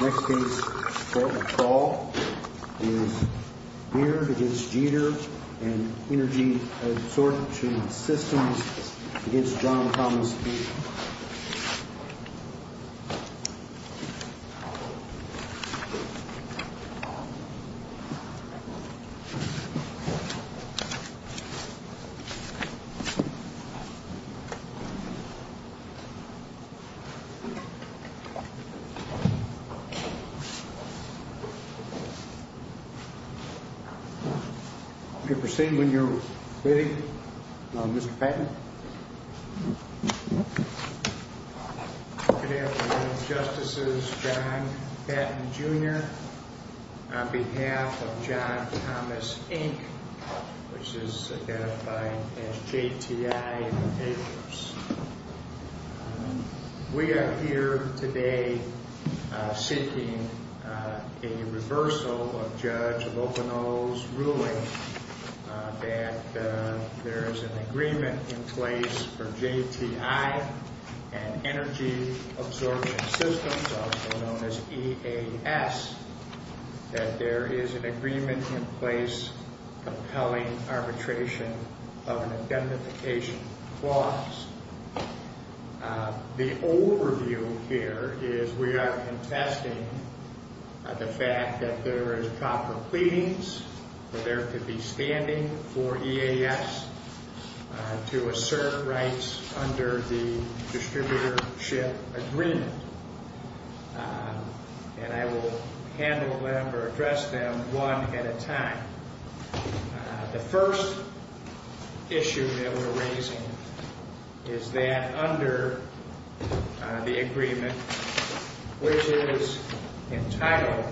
Next case is Beard v. Jeter and Energy Assortment Systems v. John Thomas Beard. You may proceed when you're ready, Mr. Patton. Good afternoon, Justices. John Patton, Jr. on behalf of John Thomas, Inc., which is identified as JTI in the papers. We are here today seeking a reversal of Judge Lopino's ruling that there is an agreement in place for JTI and Energy Assortment Systems, also known as EAS, that there is an agreement in place compelling arbitration of an identification clause. The overview here is we are contesting the fact that there is proper pleadings for there to be standing for EAS to assert rights under the distributorship agreement. And I will handle them or address them one at a time. The first issue that we're raising is that under the agreement, which is entitled,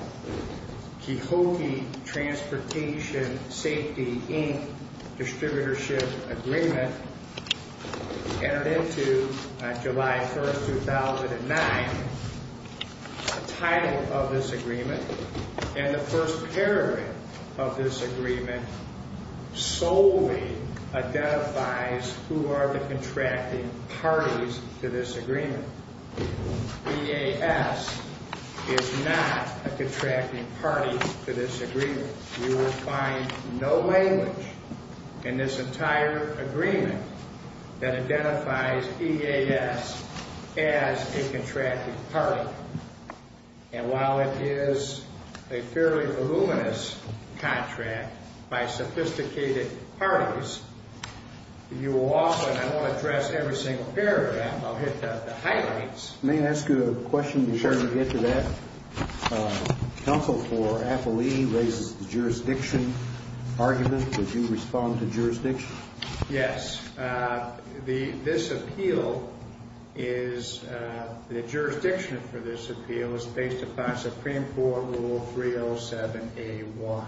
the Kehokee Transportation Safety, Inc. Distributorship Agreement entered into on July 1, 2009, the title of this agreement and the first paragraph of this agreement solely identifies who are the contracting parties to this agreement. EAS is not a contracting party to this agreement. You will find no language in this entire agreement that identifies EAS as a contracting party. And while it is a fairly voluminous contract by sophisticated parties, you will also, and I won't address every single paragraph, I'll hit the highlights. May I ask you a question before we get to that? Counsel for AFLI raises the jurisdiction argument. Would you respond to jurisdiction? Yes. This appeal is, the jurisdiction for this appeal is based upon Supreme Court Rule 307A1,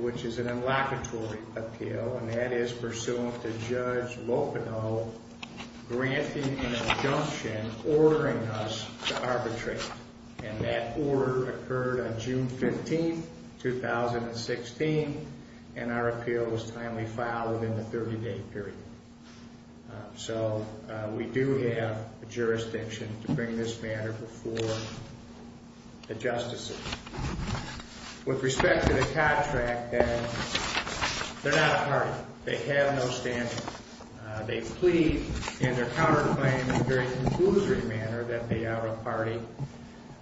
which is an inlocutory appeal, and that is pursuant to Judge Lopino granting an injunction ordering us to arbitrate. And that order occurred on June 15, 2016, and our appeal was timely filed within the 30-day period. So we do have a jurisdiction to bring this matter before the justices. With respect to the contract, they're not a party. They have no standing. They plead in their counterclaim in a very conclusory manner that they are a party,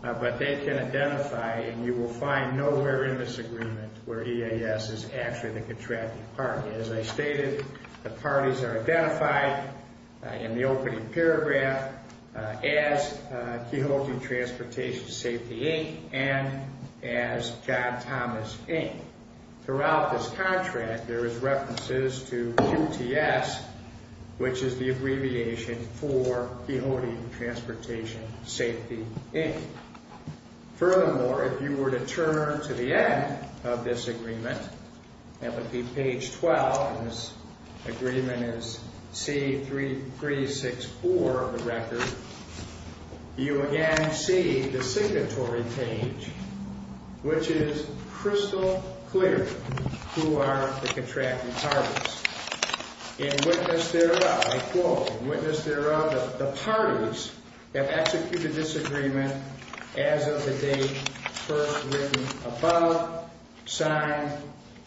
but they can identify, and you will find nowhere in this agreement where EAS is actually the contracting party. As I stated, the parties are identified in the opening paragraph as Coyhote Transportation Safety, Inc. and as John Thomas, Inc. Throughout this contract, there is references to QTS, which is the abbreviation for Coyhote Transportation Safety, Inc. Furthermore, if you were to turn to the end of this agreement, that would be page 12, and this agreement is C3364 of the record, you again see the signatory page, which is crystal clear who are the contracting parties. In witness thereof, I quote, In witness thereof, the parties have executed this agreement as of the date first written above, signed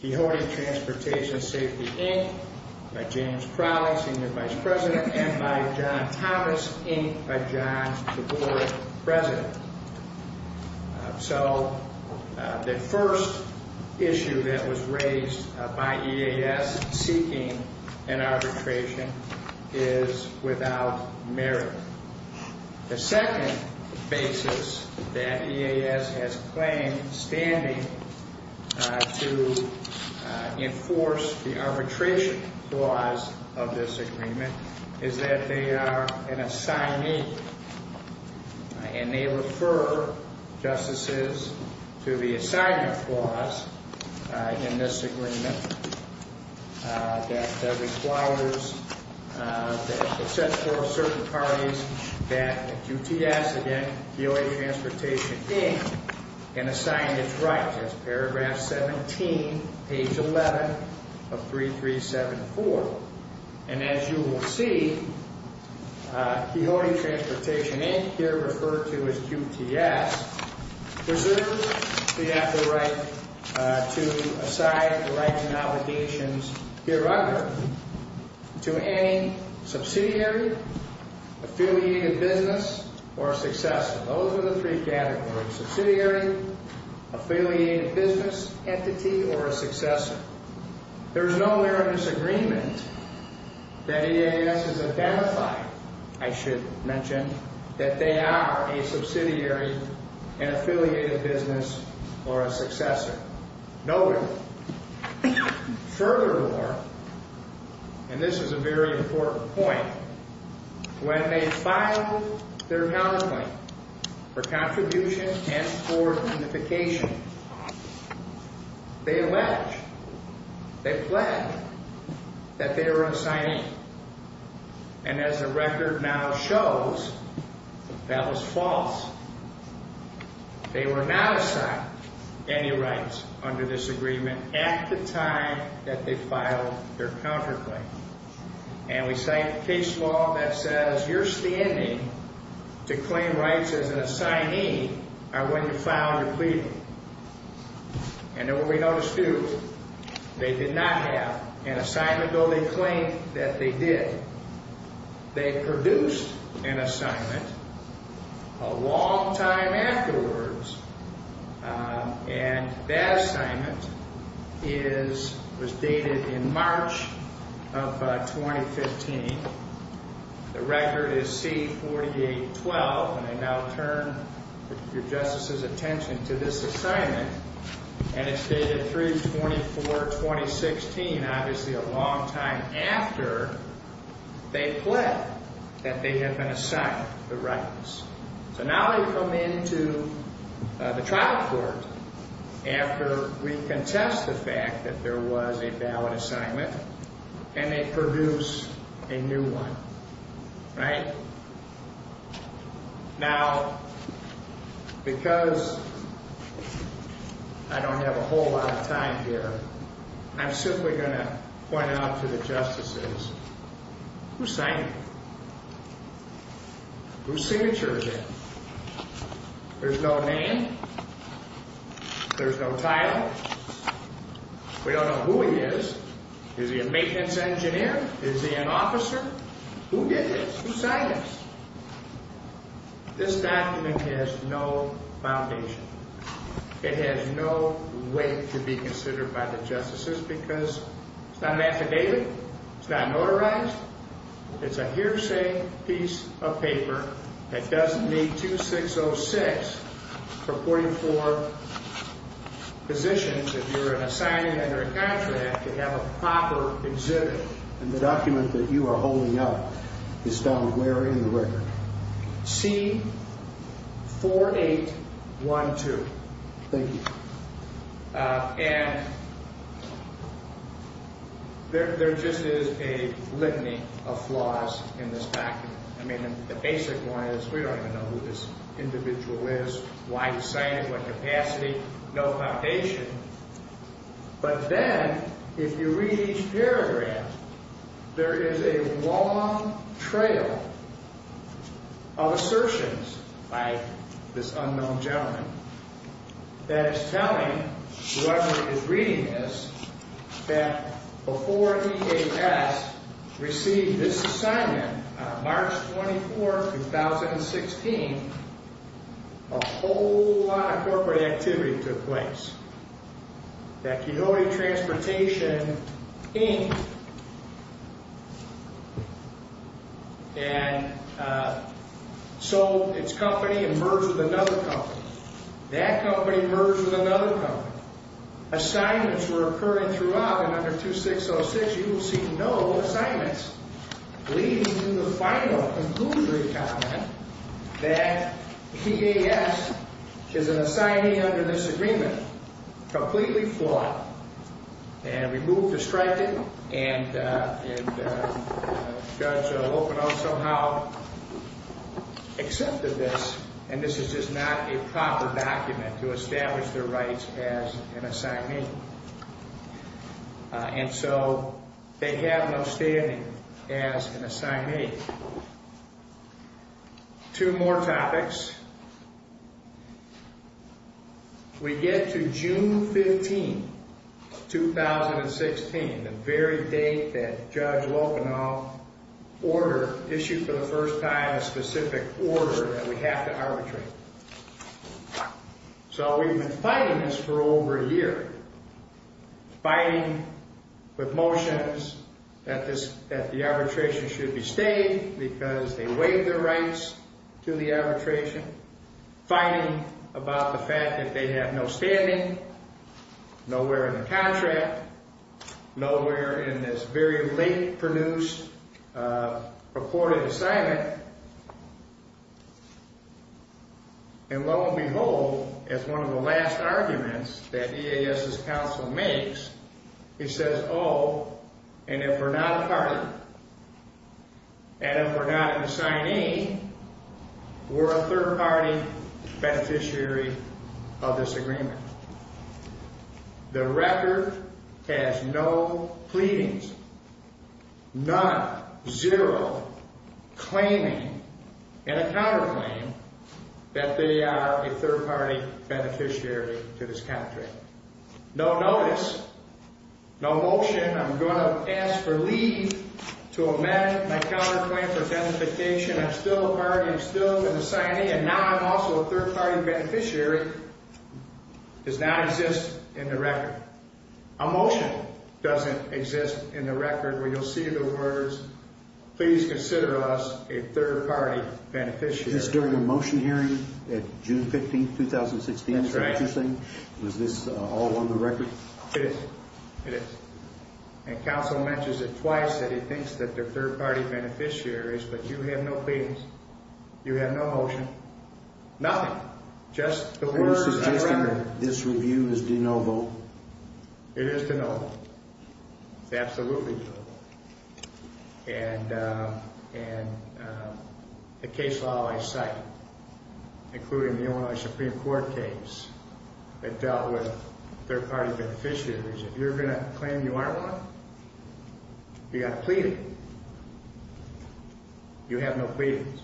Coyhote Transportation Safety, Inc. by James Crowley, Senior Vice President, and by John Thomas, Inc. by John Tabori, President. So the first issue that was raised by EAS seeking an arbitration is without merit. The second basis that EAS has claimed standing to enforce the arbitration clause of this agreement is that they are an assignee and they refer justices to the assignment clause in this agreement that requires, that sets forth certain parties that QTS, again, Coyhote Transportation, Inc., can assign its rights as paragraph 17, page 11 of 3374. And as you will see, Coyhote Transportation, Inc., here referred to as QTS, preserves the right to assign the rights and obligations hereunder to any subsidiary, affiliated business, or successor. Those are the three categories, subsidiary, affiliated business entity, or a successor. There is no merit in this agreement that EAS has identified, I should mention, that they are a subsidiary, an affiliated business, or a successor. No merit. Furthermore, and this is a very important point, when they filed their counterpoint for contribution and for unification, they alleged, they pledged that they were an assignee. And as the record now shows, that was false. They were not assigned any rights under this agreement at the time that they filed their counterclaim. And we cite case law that says your standing to claim rights as an assignee are when you file your plea. And then what we notice too, they did not have an assignment, though they claimed that they did. They produced an assignment a long time afterwards, and that assignment is, was dated in March of 2015. The record is C-4812, and I now turn your Justice's attention to this assignment, and it's dated 3-24-2016, obviously a long time after they pled that they had been assigned the rights. So now they come into the trial court after we contest the fact that there was a valid assignment, and they produce a new one, right? Now, because I don't have a whole lot of time here, I'm simply going to point out to the Justices, who signed it? Whose signature is it? There's no name. There's no title. We don't know who he is. Is he a maintenance engineer? Is he an officer? Who did this? Who signed this? This document has no foundation. It has no weight to be considered by the Justices because it's not an affidavit. It's not notarized. It's a hearsay piece of paper that doesn't need 2606 for 44 positions if you're an assignment under a contract to have a proper exhibit. And the document that you are holding up is found where in the record? C-4812. Thank you. And there just is a litany of flaws in this document. I mean, the basic one is we don't even know who this individual is, why he signed it, what capacity, no foundation. But then if you read each paragraph, there is a long trail of assertions by this unknown gentleman that is telling whoever is reading this that before EAS received this assignment on March 24, 2016, a whole lot of corporate activity took place. That Coyote Transportation Inc. sold its company and merged with another company. That company merged with another company. Assignments were occurring throughout and under 2606 you will see no assignments. Leading to the final conclusionary comment that EAS is an assignee under this agreement, completely flawed, and removed or striped it, and Judge Lopino somehow accepted this, and this is just not a proper document to establish their rights as an assignee. And so they have no standing as an assignee. Two more topics. We get to June 15, 2016, the very date that Judge Lopino issued for the first time a specific order that we have to arbitrate. So we have been fighting this for over a year. Fighting with motions that the arbitration should be stayed because they waived their rights to the arbitration. Fighting about the fact that they have no standing, nowhere in the contract, nowhere in this very late produced purported assignment. And lo and behold, as one of the last arguments that EAS's counsel makes, he says, oh, and if we're not a party, and if we're not an assignee, we're a third-party beneficiary of this agreement. The record has no pleadings, none, zero, claiming, in a counterclaim, that they are a third-party beneficiary to this contract. No notice, no motion, I'm going to ask for leave to amend my counterclaim for identification, I'm still a party, I'm still an assignee, and now I'm also a third-party beneficiary, does not exist in the record. A motion doesn't exist in the record, where you'll see the words, please consider us a third-party beneficiary. Is this during a motion hearing at June 15, 2016? That's right. Was this all on the record? It is, it is. And counsel mentions it twice, that he thinks that they're third-party beneficiaries, but you have no pleadings, you have no motion, nothing, just the words. So you're suggesting that this review is de novo? It is de novo. It's absolutely de novo. And the case law I cite, including the Illinois Supreme Court case, that dealt with third-party beneficiaries, if you're going to claim you aren't one, you've got to plead it. You have no pleadings.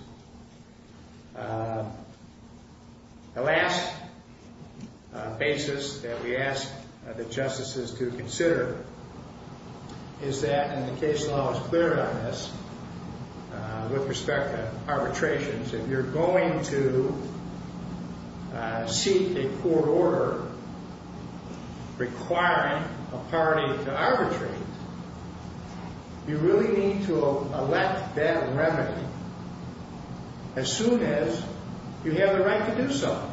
The last basis that we ask the justices to consider is that, and the case law is clear on this, with respect to arbitrations, if you're going to seek a court order requiring a party to arbitrate, you really need to elect that remedy as soon as you have the right to do so.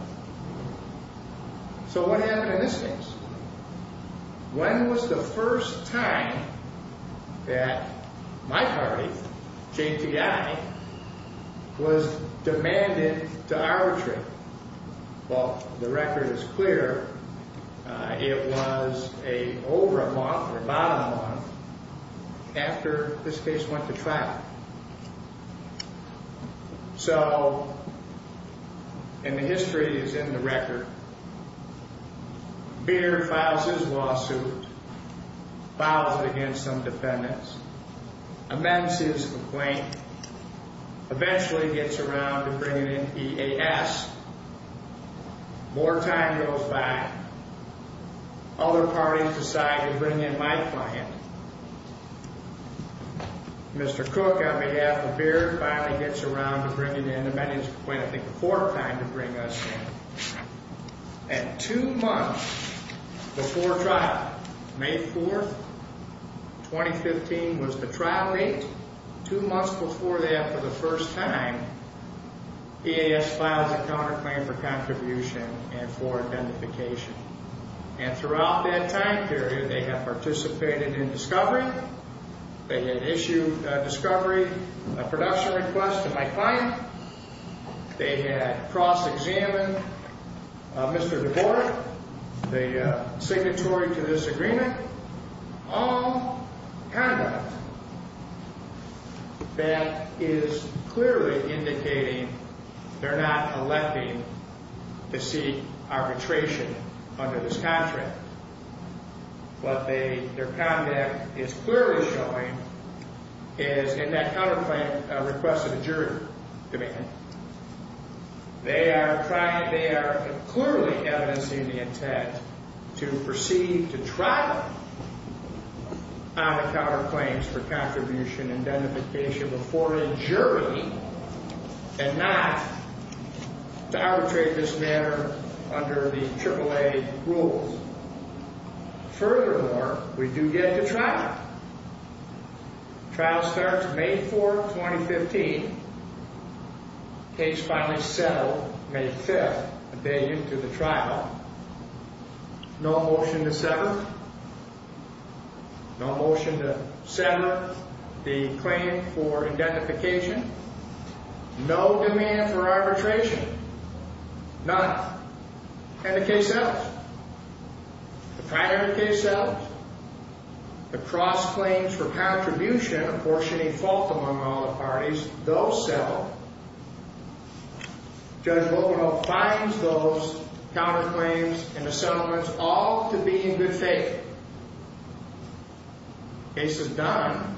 So what happened in this case? When was the first time that my party, JTI, was demanded to arbitrate? Well, the record is clear. It was over a month, or about a month, after this case went to trial. So, and the history is in the record, Beard files his lawsuit, files it against some defendants, amends his complaint, eventually gets around to bringing in EAS, more time goes by, other parties decide to bring in my client, Mr. Cook, on behalf of Beard, finally gets around to bringing in him, and he went, I think, a fourth time to bring us in. And two months before trial, May 4th, 2015, was the trial date. Two months before that, for the first time, EAS files a counterclaim for contribution and for identification. And throughout that time period, they have participated in discovery, they had issued a discovery, a production request to my client, they had cross-examined Mr. DeBoer, the signatory to this agreement, all conduct that is clearly indicating they're not electing to seek arbitration under this contract. What their conduct is clearly showing is, in that counterclaim request to the jury, they are trying, they are clearly evidencing the intent to proceed to trial on the counterclaims for contribution and identification before a jury and not to arbitrate this matter under the AAA rules. Furthermore, we do get to trial. Trial starts May 4th, 2015. Case finally settled May 5th, a day into the trial. No motion to settle. No demand for arbitration. None. And the case settles. The primary case settles. The cross-claims for contribution, apportioning fault among all the parties, those settle. Judge Lopenholt finds those counterclaims and the settlements all to be in good faith. Case is done.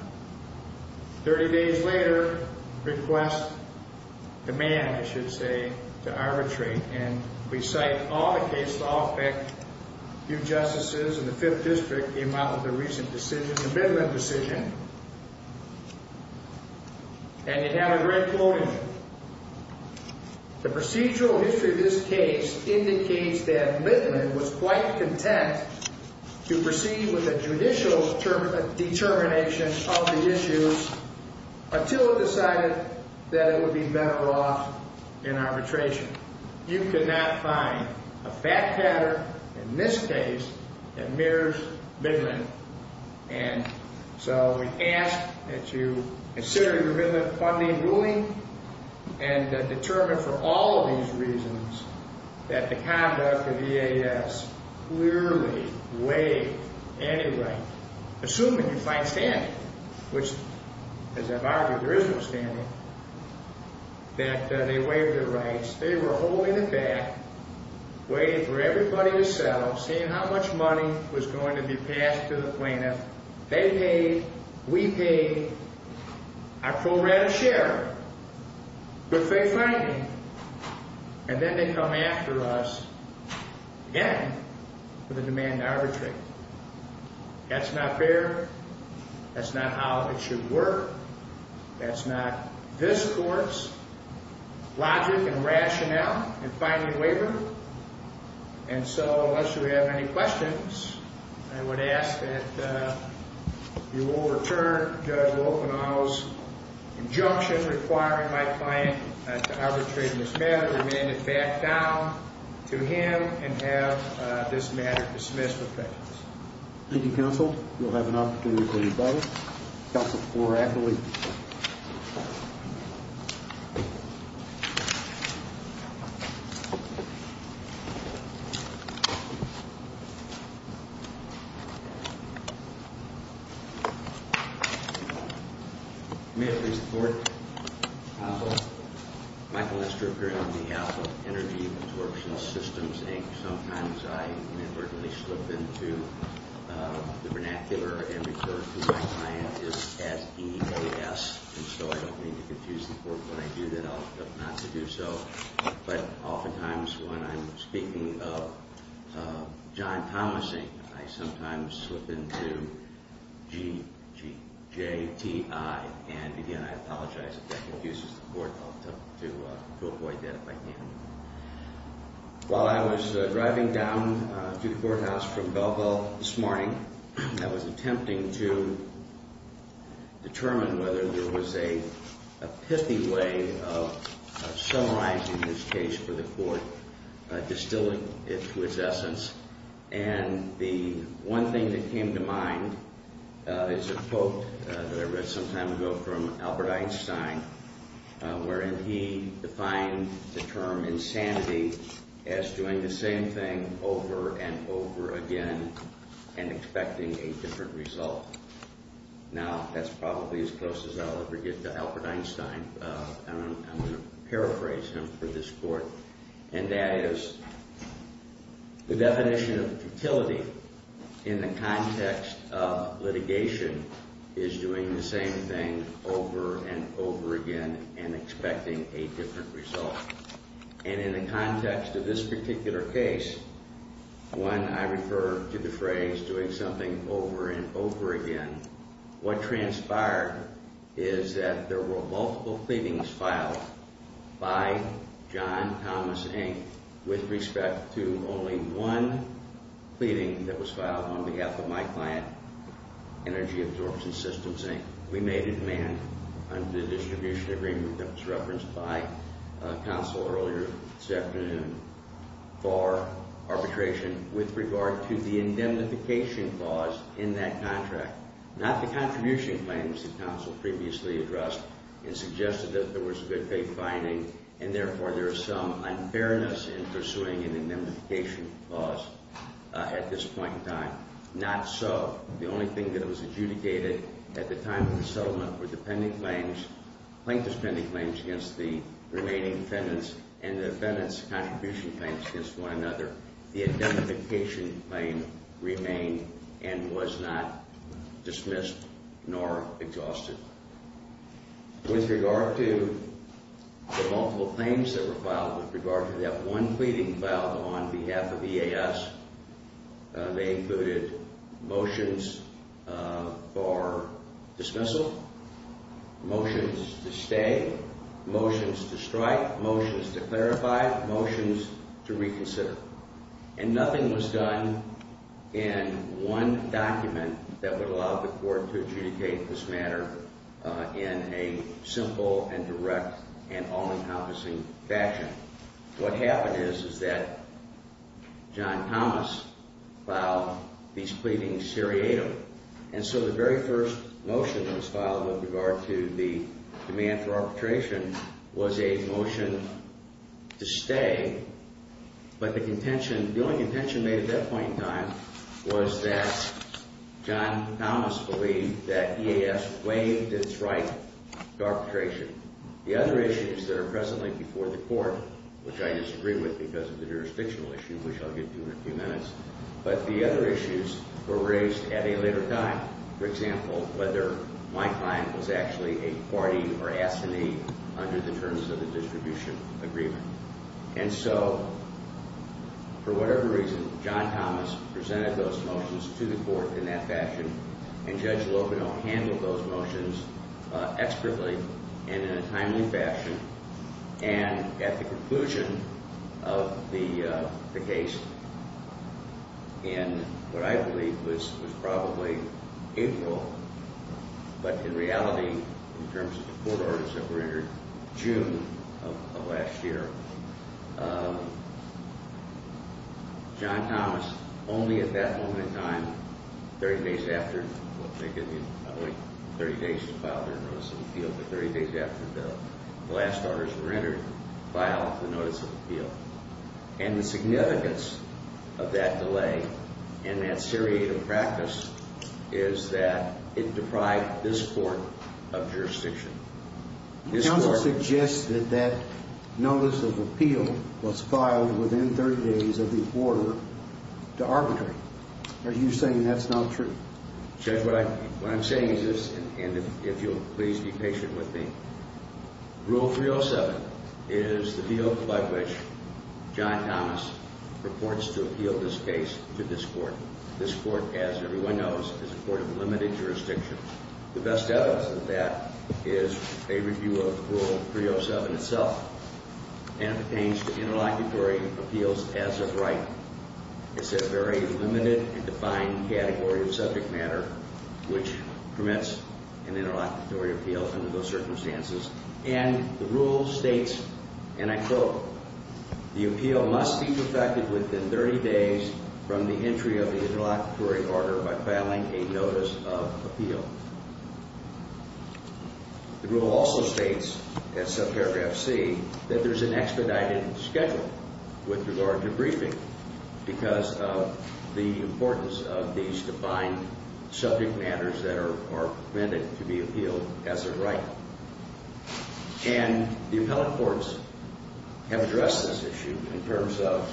Thirty days later, request, demand, I should say, to arbitrate, and we cite all the cases all picked. A few justices in the Fifth District came out with a recent decision, a Midland decision. And it had a red quote in it. The procedural history of this case indicates that Midland was quite content to proceed with a judicial determination of the issues until it decided that it would be better off in arbitration. You could not find a fact pattern in this case that mirrors Midland. And so we ask that you consider your Midland funding ruling and determine for all of these reasons that the conduct of EAS clearly waived anyway, assuming you find standing, which, as I've argued, there is no standing, that they waived their rights. They were holding it back, waiting for everybody to settle, seeing how much money was going to be passed to the plaintiff. They paid, we paid, our pro rata share. Good faith finding. And then they come after us again with a demand to arbitrate. That's not fair. That's not how it should work. That's not this court's logic and rationale in finding waiver. And so, unless you have any questions, I would ask that you overturn Judge Wolfenau's injunction requiring my client to arbitrate in this matter. Remain it back down to him and have this matter dismissed with prejudice. Thank you, Counsel. We'll have an opportunity for you both. Counsel Flora Ackley. May I please report, Counsel? Michael Lester, appearing on the Alpha Energy Absorption Systems Inc. Sometimes I inadvertently slip into the vernacular and refer to my client as EAS. And so I don't mean to confuse the court. When I do that, I'll stop not to do so. But oftentimes when I'm speaking of John Thomasing, I sometimes slip into GJTI. And again, I apologize if that confuses the court. I'll attempt to avoid that if I can. While I was driving down to the courthouse from Belleville this morning, I was attempting to determine whether there was a pithy way of summarizing this case for the court, distilling it to its essence. And the one thing that came to mind is a quote that I read some time ago from Albert Einstein, wherein he defined the term insanity as doing the same thing over and over again and expecting a different result. Now, that's probably as close as I'll ever get to Albert Einstein. I'm going to paraphrase him for this court. And that is, the definition of futility in the context of litigation is doing the same thing over and over again and expecting a different result. And in the context of this particular case, when I refer to the phrase doing something over and over again, what transpired is that there were multiple pleadings filed by John Thomas, Inc. with respect to only one pleading that was filed on behalf of my client, Energy Absorption Systems, Inc. We made a demand under the distribution agreement that was referenced by counsel earlier this afternoon for arbitration with regard to the indemnification clause in that contract. Not the contribution claims that counsel previously addressed and suggested that there was a good faith finding and therefore there is some unfairness in pursuing an indemnification clause at this point in time. Not so. The only thing that was adjudicated at the time of the settlement were plaintiff's pending claims against the remaining defendants and the defendants' contribution claims against one another. The indemnification claim remained and was not dismissed nor exhausted. With regard to the multiple claims that were filed, with regard to that one pleading filed on behalf of EAS, they included motions for dismissal, motions to stay, motions to strike, motions to clarify, motions to reconsider. And nothing was done in one document that would allow the court to adjudicate this matter in a simple and direct and all-encompassing fashion. What happened is that John Thomas filed these pleadings seriatim. And so the very first motion that was filed with regard to the demand for arbitration was a motion to stay. But the contention, the only contention made at that point in time was that John Thomas believed that EAS waived its right to arbitration. The other issues that are presently before the court which I disagree with because of the jurisdictional issue, which I'll get to in a few minutes, but the other issues were raised at a later time. For example, whether my client was actually a party or assignee under the terms of the distribution agreement. And so, for whatever reason, John Thomas presented those motions to the court in that fashion and Judge Lopino handled those motions expertly and in a timely fashion and at the conclusion of the case in what I believe was probably April, but in reality, in terms of the quarters that were entered, June of last year, John Thomas, only at that moment in time, 30 days after, I think it was probably 30 days before he filed an arbitration appeal, but 30 days after the last orders were entered, filed the notice of appeal. And the significance of that delay and that seriative practice is that it deprived this court of jurisdiction. This court... The counsel suggested that notice of appeal was filed within 30 days of the order to arbitrate. Are you saying that's not true? Judge, what I'm saying is this, and if you'll please be patient with me, Rule 307 is the deal by which John Thomas purports to appeal this case to this court. This court, as everyone knows, is a court of limited jurisdiction. The best evidence of that is a review of Rule 307 itself and pertains to interlocutory appeals as of right. It's a very limited and defined category of subject matter which permits an interlocutory appeal under those circumstances. And the rule states, and I quote, the appeal must be perfected within 30 days from the entry of the interlocutory order by filing a notice of appeal. The rule also states, in subparagraph C, that there's an expedited schedule with regard to briefing because of the importance of these defined subject matters that are permitted to be appealed as of right. And the appellate courts have addressed this issue in terms of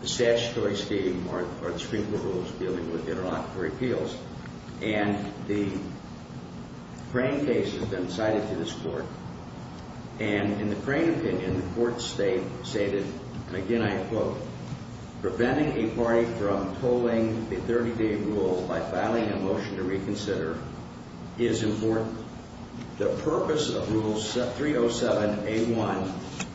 the statutory scheme or the Supreme Court rules dealing with interlocutory appeals. And the Crane case has been cited to this court. And in the Crane opinion, the court's state stated, and again I quote, preventing a party from pulling a 30-day rule by filing a motion to reconsider is important. The purpose of Rule 307A1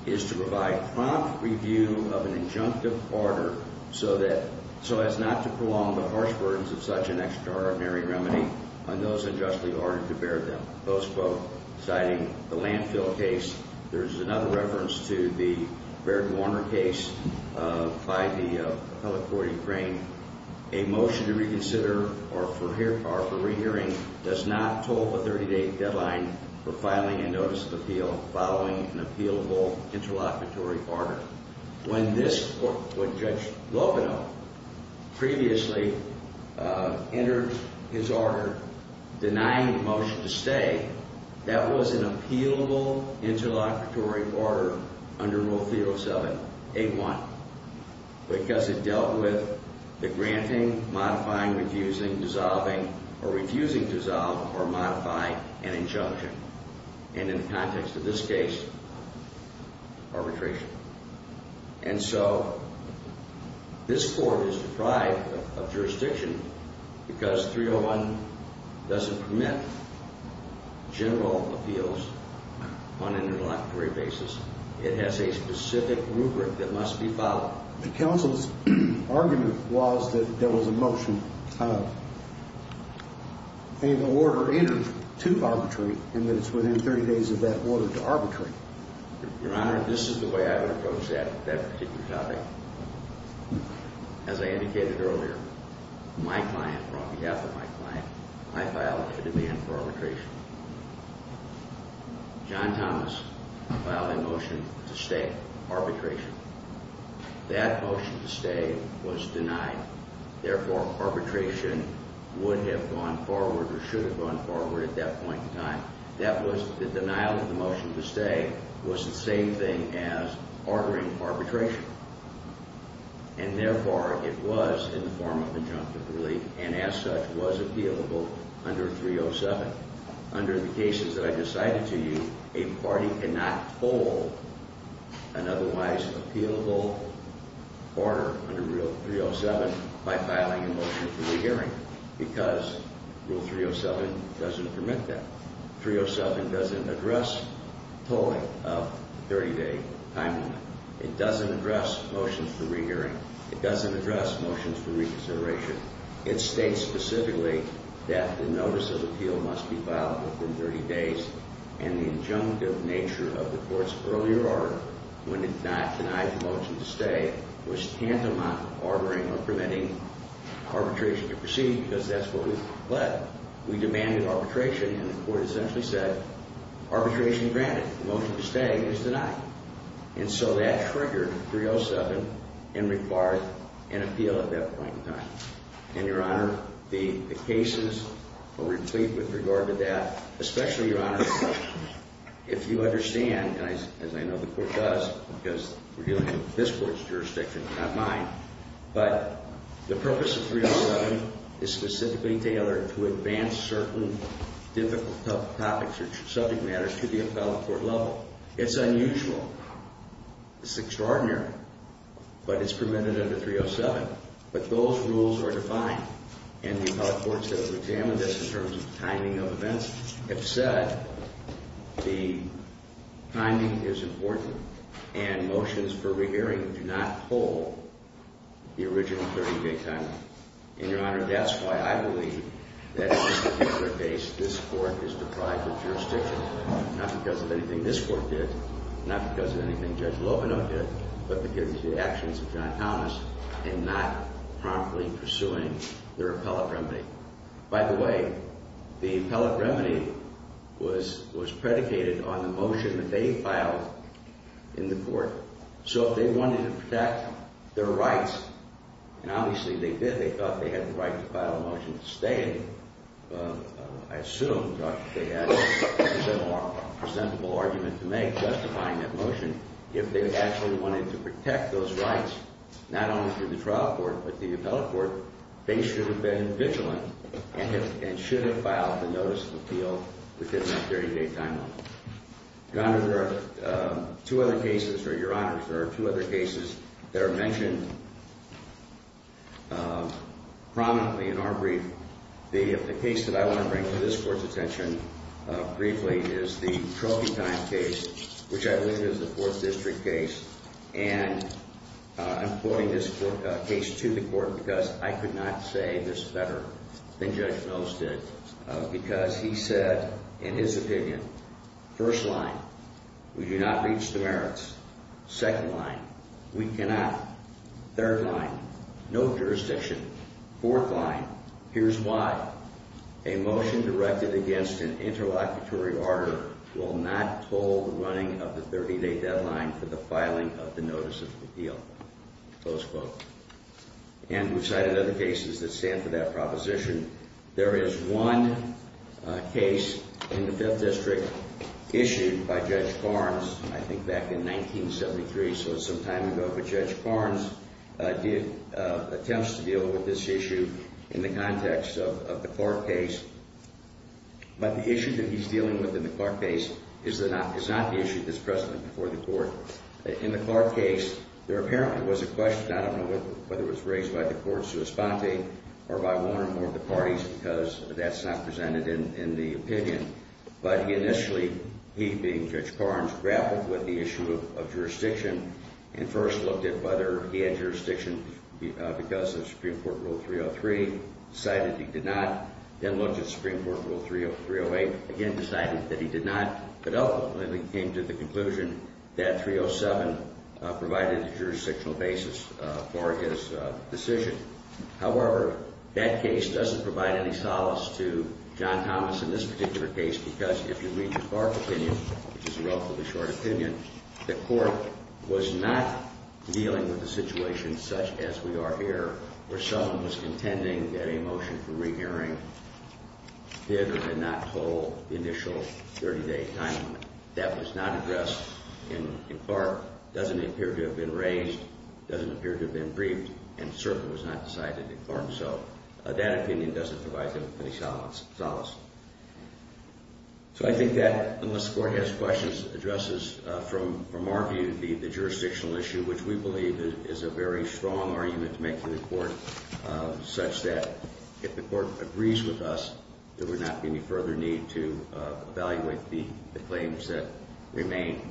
is to provide prompt review of an injunctive order so as not to prolong the harsh burdens of such an extraordinary remedy on those unjustly ordered to bear them. Those, quote, citing the landfill case. There's another reference to the Baird-Warner case by the appellate court in Crane. A motion to reconsider or for rehearing does not toll a 30-day deadline for filing a notice of appeal following an appealable interlocutory order. When this court, when Judge Lovino previously entered his order denying the motion to stay, that was an appealable interlocutory order under Rule 307A1 because it dealt with the granting, modifying, refusing, dissolving, or refusing to dissolve or modify an injunction. And in the context of this case, arbitration. And so this court is deprived of jurisdiction because 301 doesn't permit general appeals on an interlocutory basis. It has a specific rubric that must be followed. The counsel's argument was that there was a motion of an order entered to arbitrate and that it's within 30 days of that order to arbitrate. Your Honor, this is the way I would approach that, that particular topic. As I indicated earlier, my client, on behalf of my client, I filed a demand for arbitration. John Thomas filed a motion to stay arbitration. That motion to stay was denied. Therefore, arbitration would have gone forward or should have gone forward at that point in time. The denial of the motion to stay was the same thing as ordering arbitration. And therefore, it was in the form of injunctive relief and as such was appealable under 307. Under the cases that I just cited to you, a party cannot hold an otherwise appealable order under Rule 307 by filing a motion for the hearing because Rule 307 doesn't permit that. Rule 307 doesn't address pulling up the 30-day time limit. It doesn't address motions for re-hearing. It doesn't address motions for reconsideration. It states specifically that the notice of appeal must be filed within 30 days and the injunctive nature of the court's earlier order when it denied the motion to stay was tantamount to ordering or permitting arbitration to proceed because that's what we've pled. We demanded arbitration and the court essentially said, arbitration granted. The motion to stay is denied. And so that triggered 307 and required an appeal at that point in time. And, Your Honor, the cases will replete with regard to that, especially, Your Honor, if you understand, and as I know the court does because we're dealing with this court's jurisdiction, not mine, but the purpose of 307 is specifically tailored to advance certain difficult topics or subject matters to the appellate court level. It's unusual. It's extraordinary. But it's permitted under 307. But those rules are defined, and the appellate courts that have examined this in terms of timing of events have said the timing is important and motions for rehearing do not hold the original 30-day time. And, Your Honor, that's why I believe that in this particular case, this court is deprived of jurisdiction, not because of anything this court did, not because of anything Judge Lovino did, but because of the actions of John Thomas in not promptly pursuing their appellate remedy. By the way, the appellate remedy was predicated on the motion that they filed in the court. So if they wanted to protect their rights, and obviously they did. They thought they had the right to file a motion to stay. I assume, Judge, that they had a more presentable argument to make justifying that motion. If they actually wanted to protect those rights, not only through the trial court, but the appellate court, they should have been vigilant and should have filed the notice of appeal within that 30-day time limit. Your Honor, there are two other cases, or Your Honors, there are two other cases that are mentioned prominently in our brief. The case that I want to bring to this Court's attention briefly is the Trophy Time case, which I believe is a Fourth District case. And I'm quoting this case to the Court because I could not say this better than Judge Mills did. Because he said, in his opinion, first line, we do not reach the merits. Second line, we cannot. Third line, no jurisdiction. Fourth line, here's why. A motion directed against an interlocutory auditor will not toll the running of the 30-day deadline for the filing of the notice of appeal. Close quote. And we've cited other cases that stand for that proposition. There is one case in the Fifth District issued by Judge Farnes, I think back in 1973, so it's some time ago, but Judge Farnes did attempts to deal with this issue in the context of the Clark case. But the issue that he's dealing with in the Clark case is not the issue that's present before the Court. In the Clark case, there apparently was a question, I don't know whether it was raised by the court's correspondent or by one or more of the parties because that's not presented in the opinion. But initially, he, being Judge Farnes, grappled with the issue of jurisdiction and first looked at whether he had jurisdiction because of Supreme Court Rule 303, decided he did not, then looked at Supreme Court Rule 308, again decided that he did not, but ultimately came to the conclusion that 307 provided a jurisdictional basis for his decision. However, that case doesn't provide any solace to John Thomas in this particular case because if you read the Clark opinion, which is a relatively short opinion, the Court was not dealing with the situation such as we are here, where someone was contending that a motion for re-hearing did or did not toll the initial 30-day time limit. That was not addressed in Clark, doesn't appear to have been raised, doesn't appear to have been briefed, and certainly was not decided in Clark. So that opinion doesn't provide any solace. So I think that, unless the Court has questions, addresses from our view the jurisdictional issue, which we believe is a very strong argument to make to the Court, such that if the Court agrees with us, there would not be any further need to evaluate the claims that remain.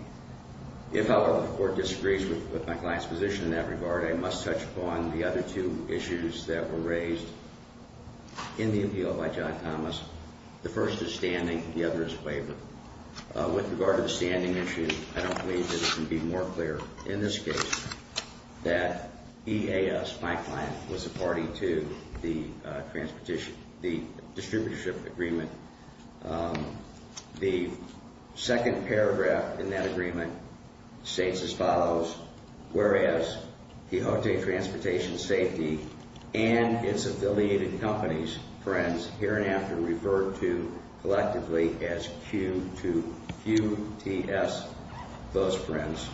If, however, the Court disagrees with my client's position in that regard, I must touch upon the other two issues that were raised in the appeal by John Thomas. The first is standing, the other is waiver. With regard to the standing issue, I don't believe that it can be more clear in this case that EAS, my client, was a party to the distributorship agreement. The second paragraph in that agreement states as follows, whereas Quixote Transportation Safety and its affiliated companies, friends, here and after referred to collectively as Q2, QTS, those friends,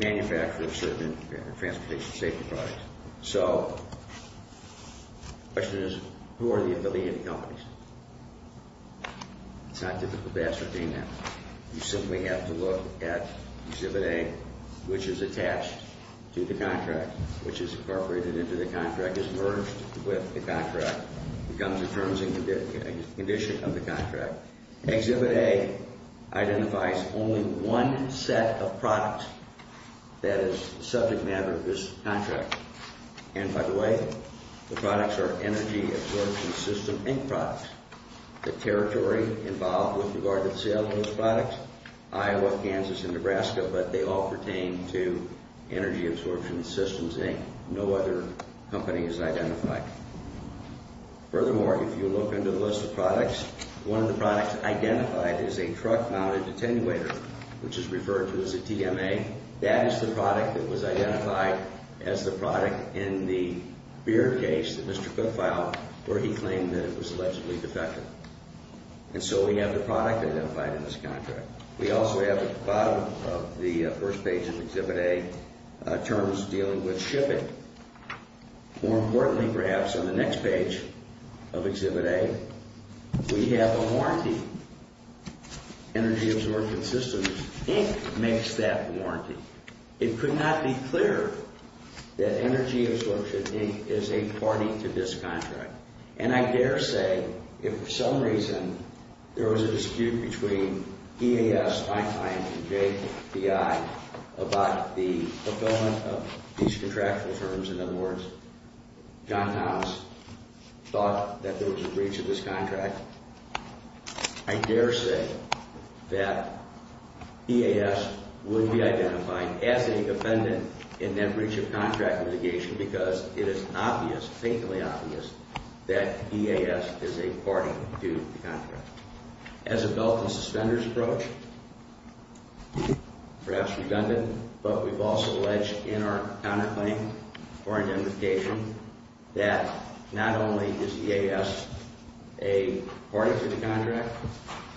manufacture of certain transportation safety products. So the question is, who are the affiliated companies? It's not difficult to ascertain that. You simply have to look at Exhibit A, which is attached to the contract, which is incorporated into the contract, is merged with the contract, becomes a terms and condition of the contract. Exhibit A identifies only one set of products that is the subject matter of this contract. And by the way, the products are Energy Absorption Systems, Inc. products. The territory involved with regard to sales of those products, Iowa, Kansas, and Nebraska, but they all pertain to Energy Absorption Systems, Inc. No other company is identified. Furthermore, if you look under the list of products, one of the products identified is a truck-mounted attenuator, which is referred to as a TMA. That is the product that was identified as the product in the beer case that Mr. Cook filed where he claimed that it was allegedly defective. And so we have the product identified in this contract. We also have at the bottom of the first page of Exhibit A terms dealing with shipping. More importantly, perhaps, on the next page of Exhibit A, we have a warranty. Energy Absorption Systems, Inc. makes that warranty. It could not be clearer that Energy Absorption, Inc. is a party to this contract. And I dare say, if for some reason there was a dispute between EAS, Einstein, and JPI about the fulfillment of these contractual terms, in other words, John House thought that there was a breach of this contract, I dare say that EAS would be identified as a defendant in that breach of contract litigation because it is obvious, faintly obvious, that EAS is a party to the contract. As a belt and suspenders approach, perhaps redundant, but we've also alleged in our counterclaim for identification that not only is EAS a party to the contract,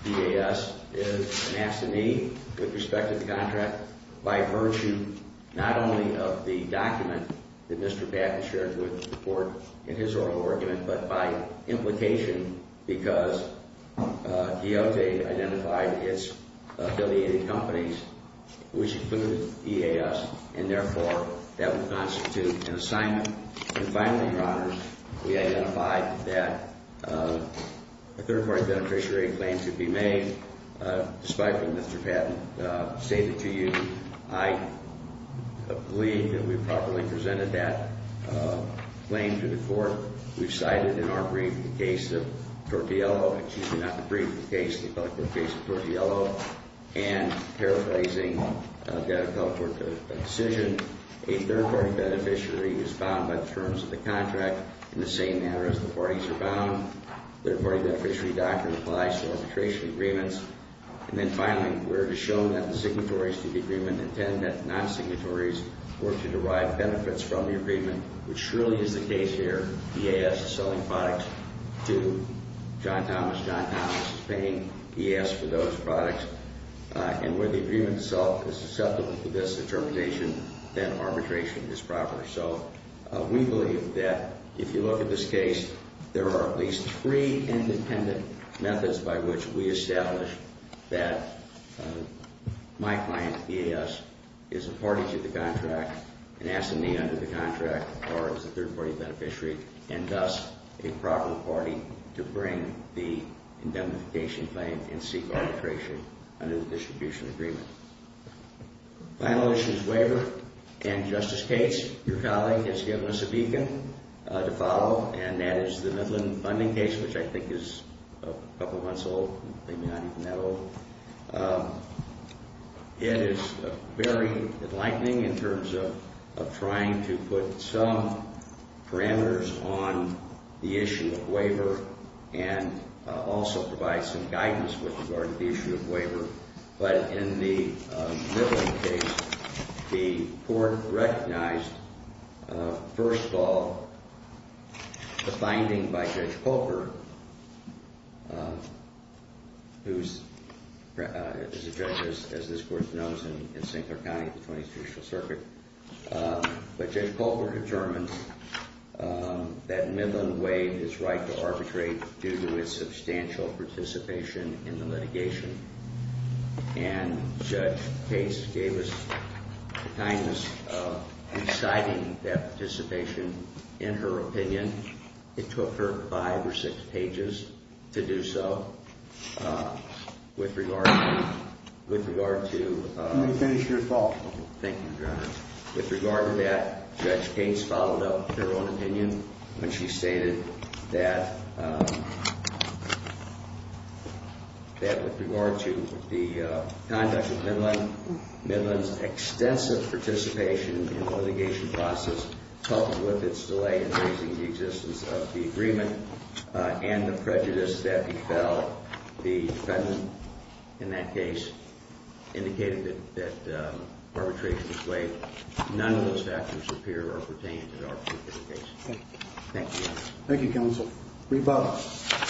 EAS is an absentee with respect to the contract by virtue not only of the document that Mr. Patton shared with the court in his oral argument, but by implication because DOT identified its affiliated companies, which included EAS, and therefore that would constitute an assignment. And finally, Your Honors, we identified that a third-party beneficiary claim should be made despite what Mr. Patton stated to you. I believe that we've properly presented that claim to the court. We've cited in our brief the case of Tortiello, excuse me, not the brief, the case of Tortiello, and paraphrasing, I've got to come up with a decision, a third-party beneficiary is bound by the terms of the contract in the same manner as the parties are bound. The third-party beneficiary doctrine applies to arbitration agreements. And then finally, we're to show that the signatories to the agreement intend that non-signatories were to derive benefits from the agreement, which surely is the case here. EAS is selling products to John Thomas. John Thomas is paying EAS for those products. And where the agreement itself is susceptible to this interpretation, then arbitration is proper. So we believe that if you look at this case, there are at least three independent methods by which we establish that my client, EAS, is a party to the contract and has a need under the contract or is a third-party beneficiary and thus a proper party to bring the indemnification claim and seek arbitration under the distribution agreement. Final issues, waiver, and Justice Cates, your colleague, has given us a beacon to follow, and that is the Midland funding case, which I think is a couple months old, maybe not even that old. It is very enlightening in terms of trying to put some parameters on the issue of waiver and also provide some guidance with regard to the issue of waiver. But in the Midland case, the court recognized, first of all, the finding by Judge Colbert, who is a judge, as this Court knows, in St. Clair County at the 20th Judicial Circuit. But Judge Colbert determined that Midland waived its right to arbitrate due to its substantial participation in the litigation. And Judge Cates gave us kindness in citing that participation in her opinion. It took her five or six pages to do so with regard to... With regard to that, Judge Cates followed up her own opinion when she stated that with regard to the conduct of Midland, Midland's extensive participation in the litigation process, coupled with its delay in raising the existence of the agreement and the prejudice that befell the defendant in that case, indicated that arbitration was waived. None of those factors appear or pertain to our particular case. Thank you. Thank you, Counsel. Rebuttal. Good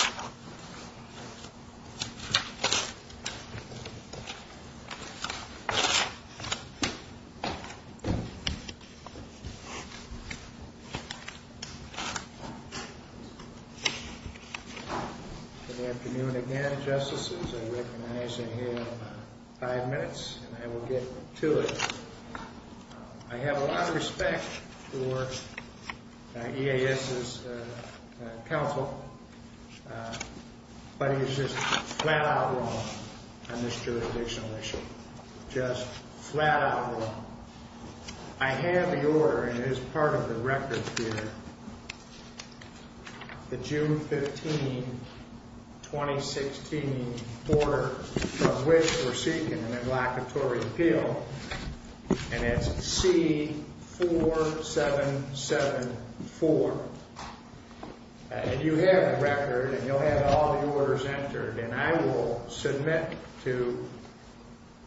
afternoon again, Justices. I recognize I have five minutes, and I will get to it. I have a lot of respect for EAS's counsel, but he is just flat-out wrong on this jurisdictional issue. Just flat-out wrong. I have the order, and it is part of the record here, the June 15, 2016, order of which we're seeking a neglectatory appeal, and it's C-4774. And you have the record, and you'll have all the orders entered, and I will submit to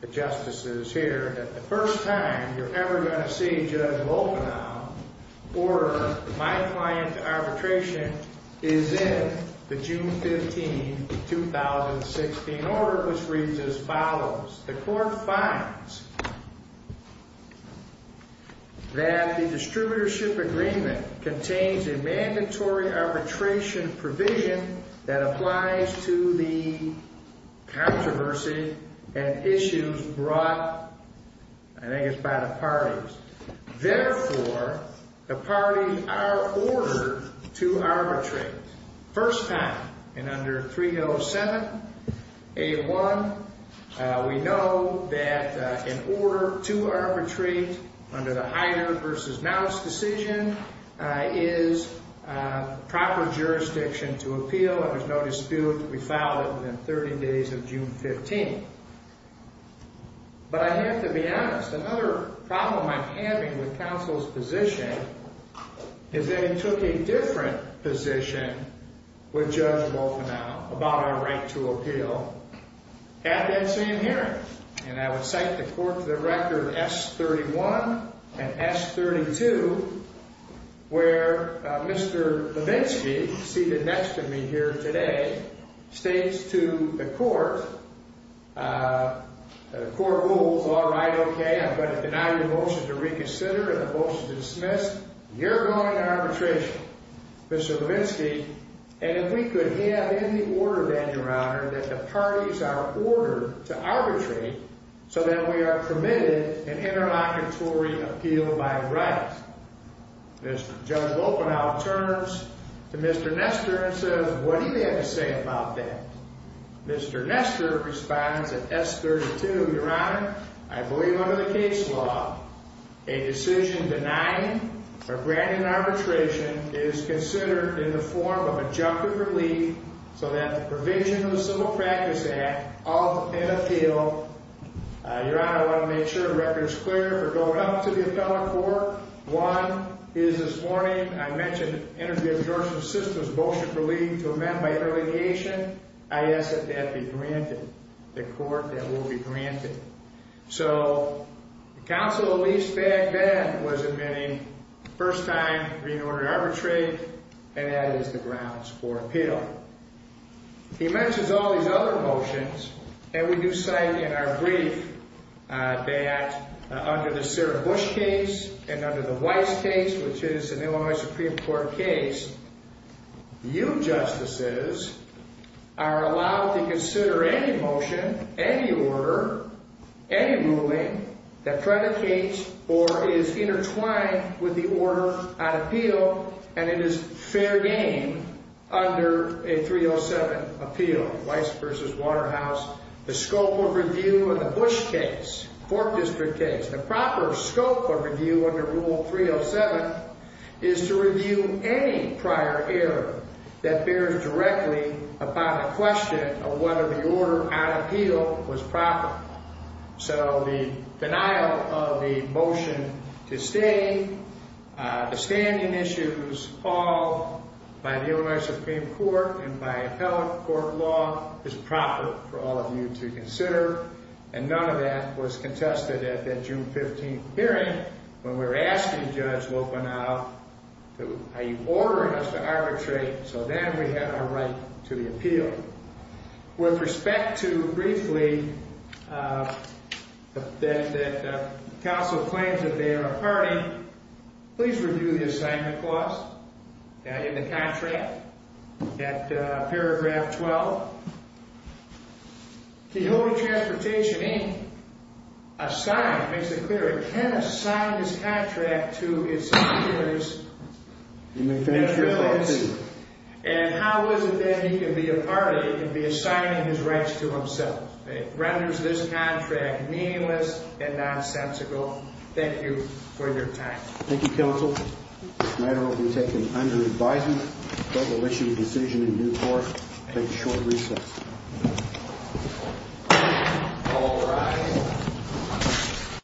the Justices here that the first time you're ever going to see Judge Volkenau order my client arbitration is in the June 15, 2016, order, which reads as follows. The court finds that the distributorship agreement contains a mandatory arbitration provision that applies to the controversy and issues brought, I think it's by the parties. Therefore, the parties are ordered to arbitrate. First time in under 307A1, we know that an order to arbitrate under the Heider v. Mounce decision is proper jurisdiction to appeal, and there's no dispute. We filed it within 30 days of June 15. But I have to be honest. Another problem I'm having with counsel's position is that it took a different position with Judge Volkenau about our right to appeal at that same hearing. And I would cite the court to the record, S-31 and S-32, where Mr. Levinsky, seated next to me here today, states to the court, the court rules, all right, okay, I'm going to deny your motion to reconsider and the motion to dismiss. You're going to arbitration, Mr. Levinsky, and if we could have in the order then, Your Honor, that the parties are ordered to arbitrate so that we are permitted an interlocutory appeal by right. Judge Volkenau turns to Mr. Nestor and says, what do you have to say about that? Mr. Nestor responds at S-32, Your Honor, I believe under the case law, a decision denying or granting arbitration is considered in the form of adjunctive relief so that the provision of the Civil Practice Act of an appeal. Your Honor, I want to make sure the record is clear. If we're going up to the appellate court, one is this morning, I mentioned an interdict of your sister's motion for leaving to amend by interlocution. I ask that that be granted. The court, that will be granted. So the counsel, at least back then, was admitting the first time being ordered to arbitrate, and that is the grounds for appeal. He mentions all these other motions, and we do cite in our brief that under the Sarah Bush case, and under the Weiss case, which is the Illinois Supreme Court case, you justices are allowed to consider any motion, any order, any ruling that predicates or is intertwined with the order on appeal, and it is fair game under a 307 appeal. Weiss v. Waterhouse, the scope of review of the Bush case, Fort District case, the proper scope of review under Rule 307 is to review any prior error that bears directly upon a question of whether the order on appeal was proper. So the denial of the motion to stay, the standing issues, all by the Illinois Supreme Court and by appellate court law, is proper for all of you to consider, and none of that was contested at that June 15th hearing when we were asking Judge Lopanow, are you ordering us to arbitrate, so then we have our right to the appeal. With respect to, briefly, that counsel claims that they are a party, please review the assignment clause in the contract at paragraph 12. The Illinois Transportation Inc. assigns, makes it clear, it can assign this contract to its employers. And how is it that he can be a party, he can be assigning his rights to himself. It renders this contract meaningless and nonsensical. Thank you for your time. Thank you, counsel. This matter will be taken under advisement. Court will issue a decision in due course. Take a short recess.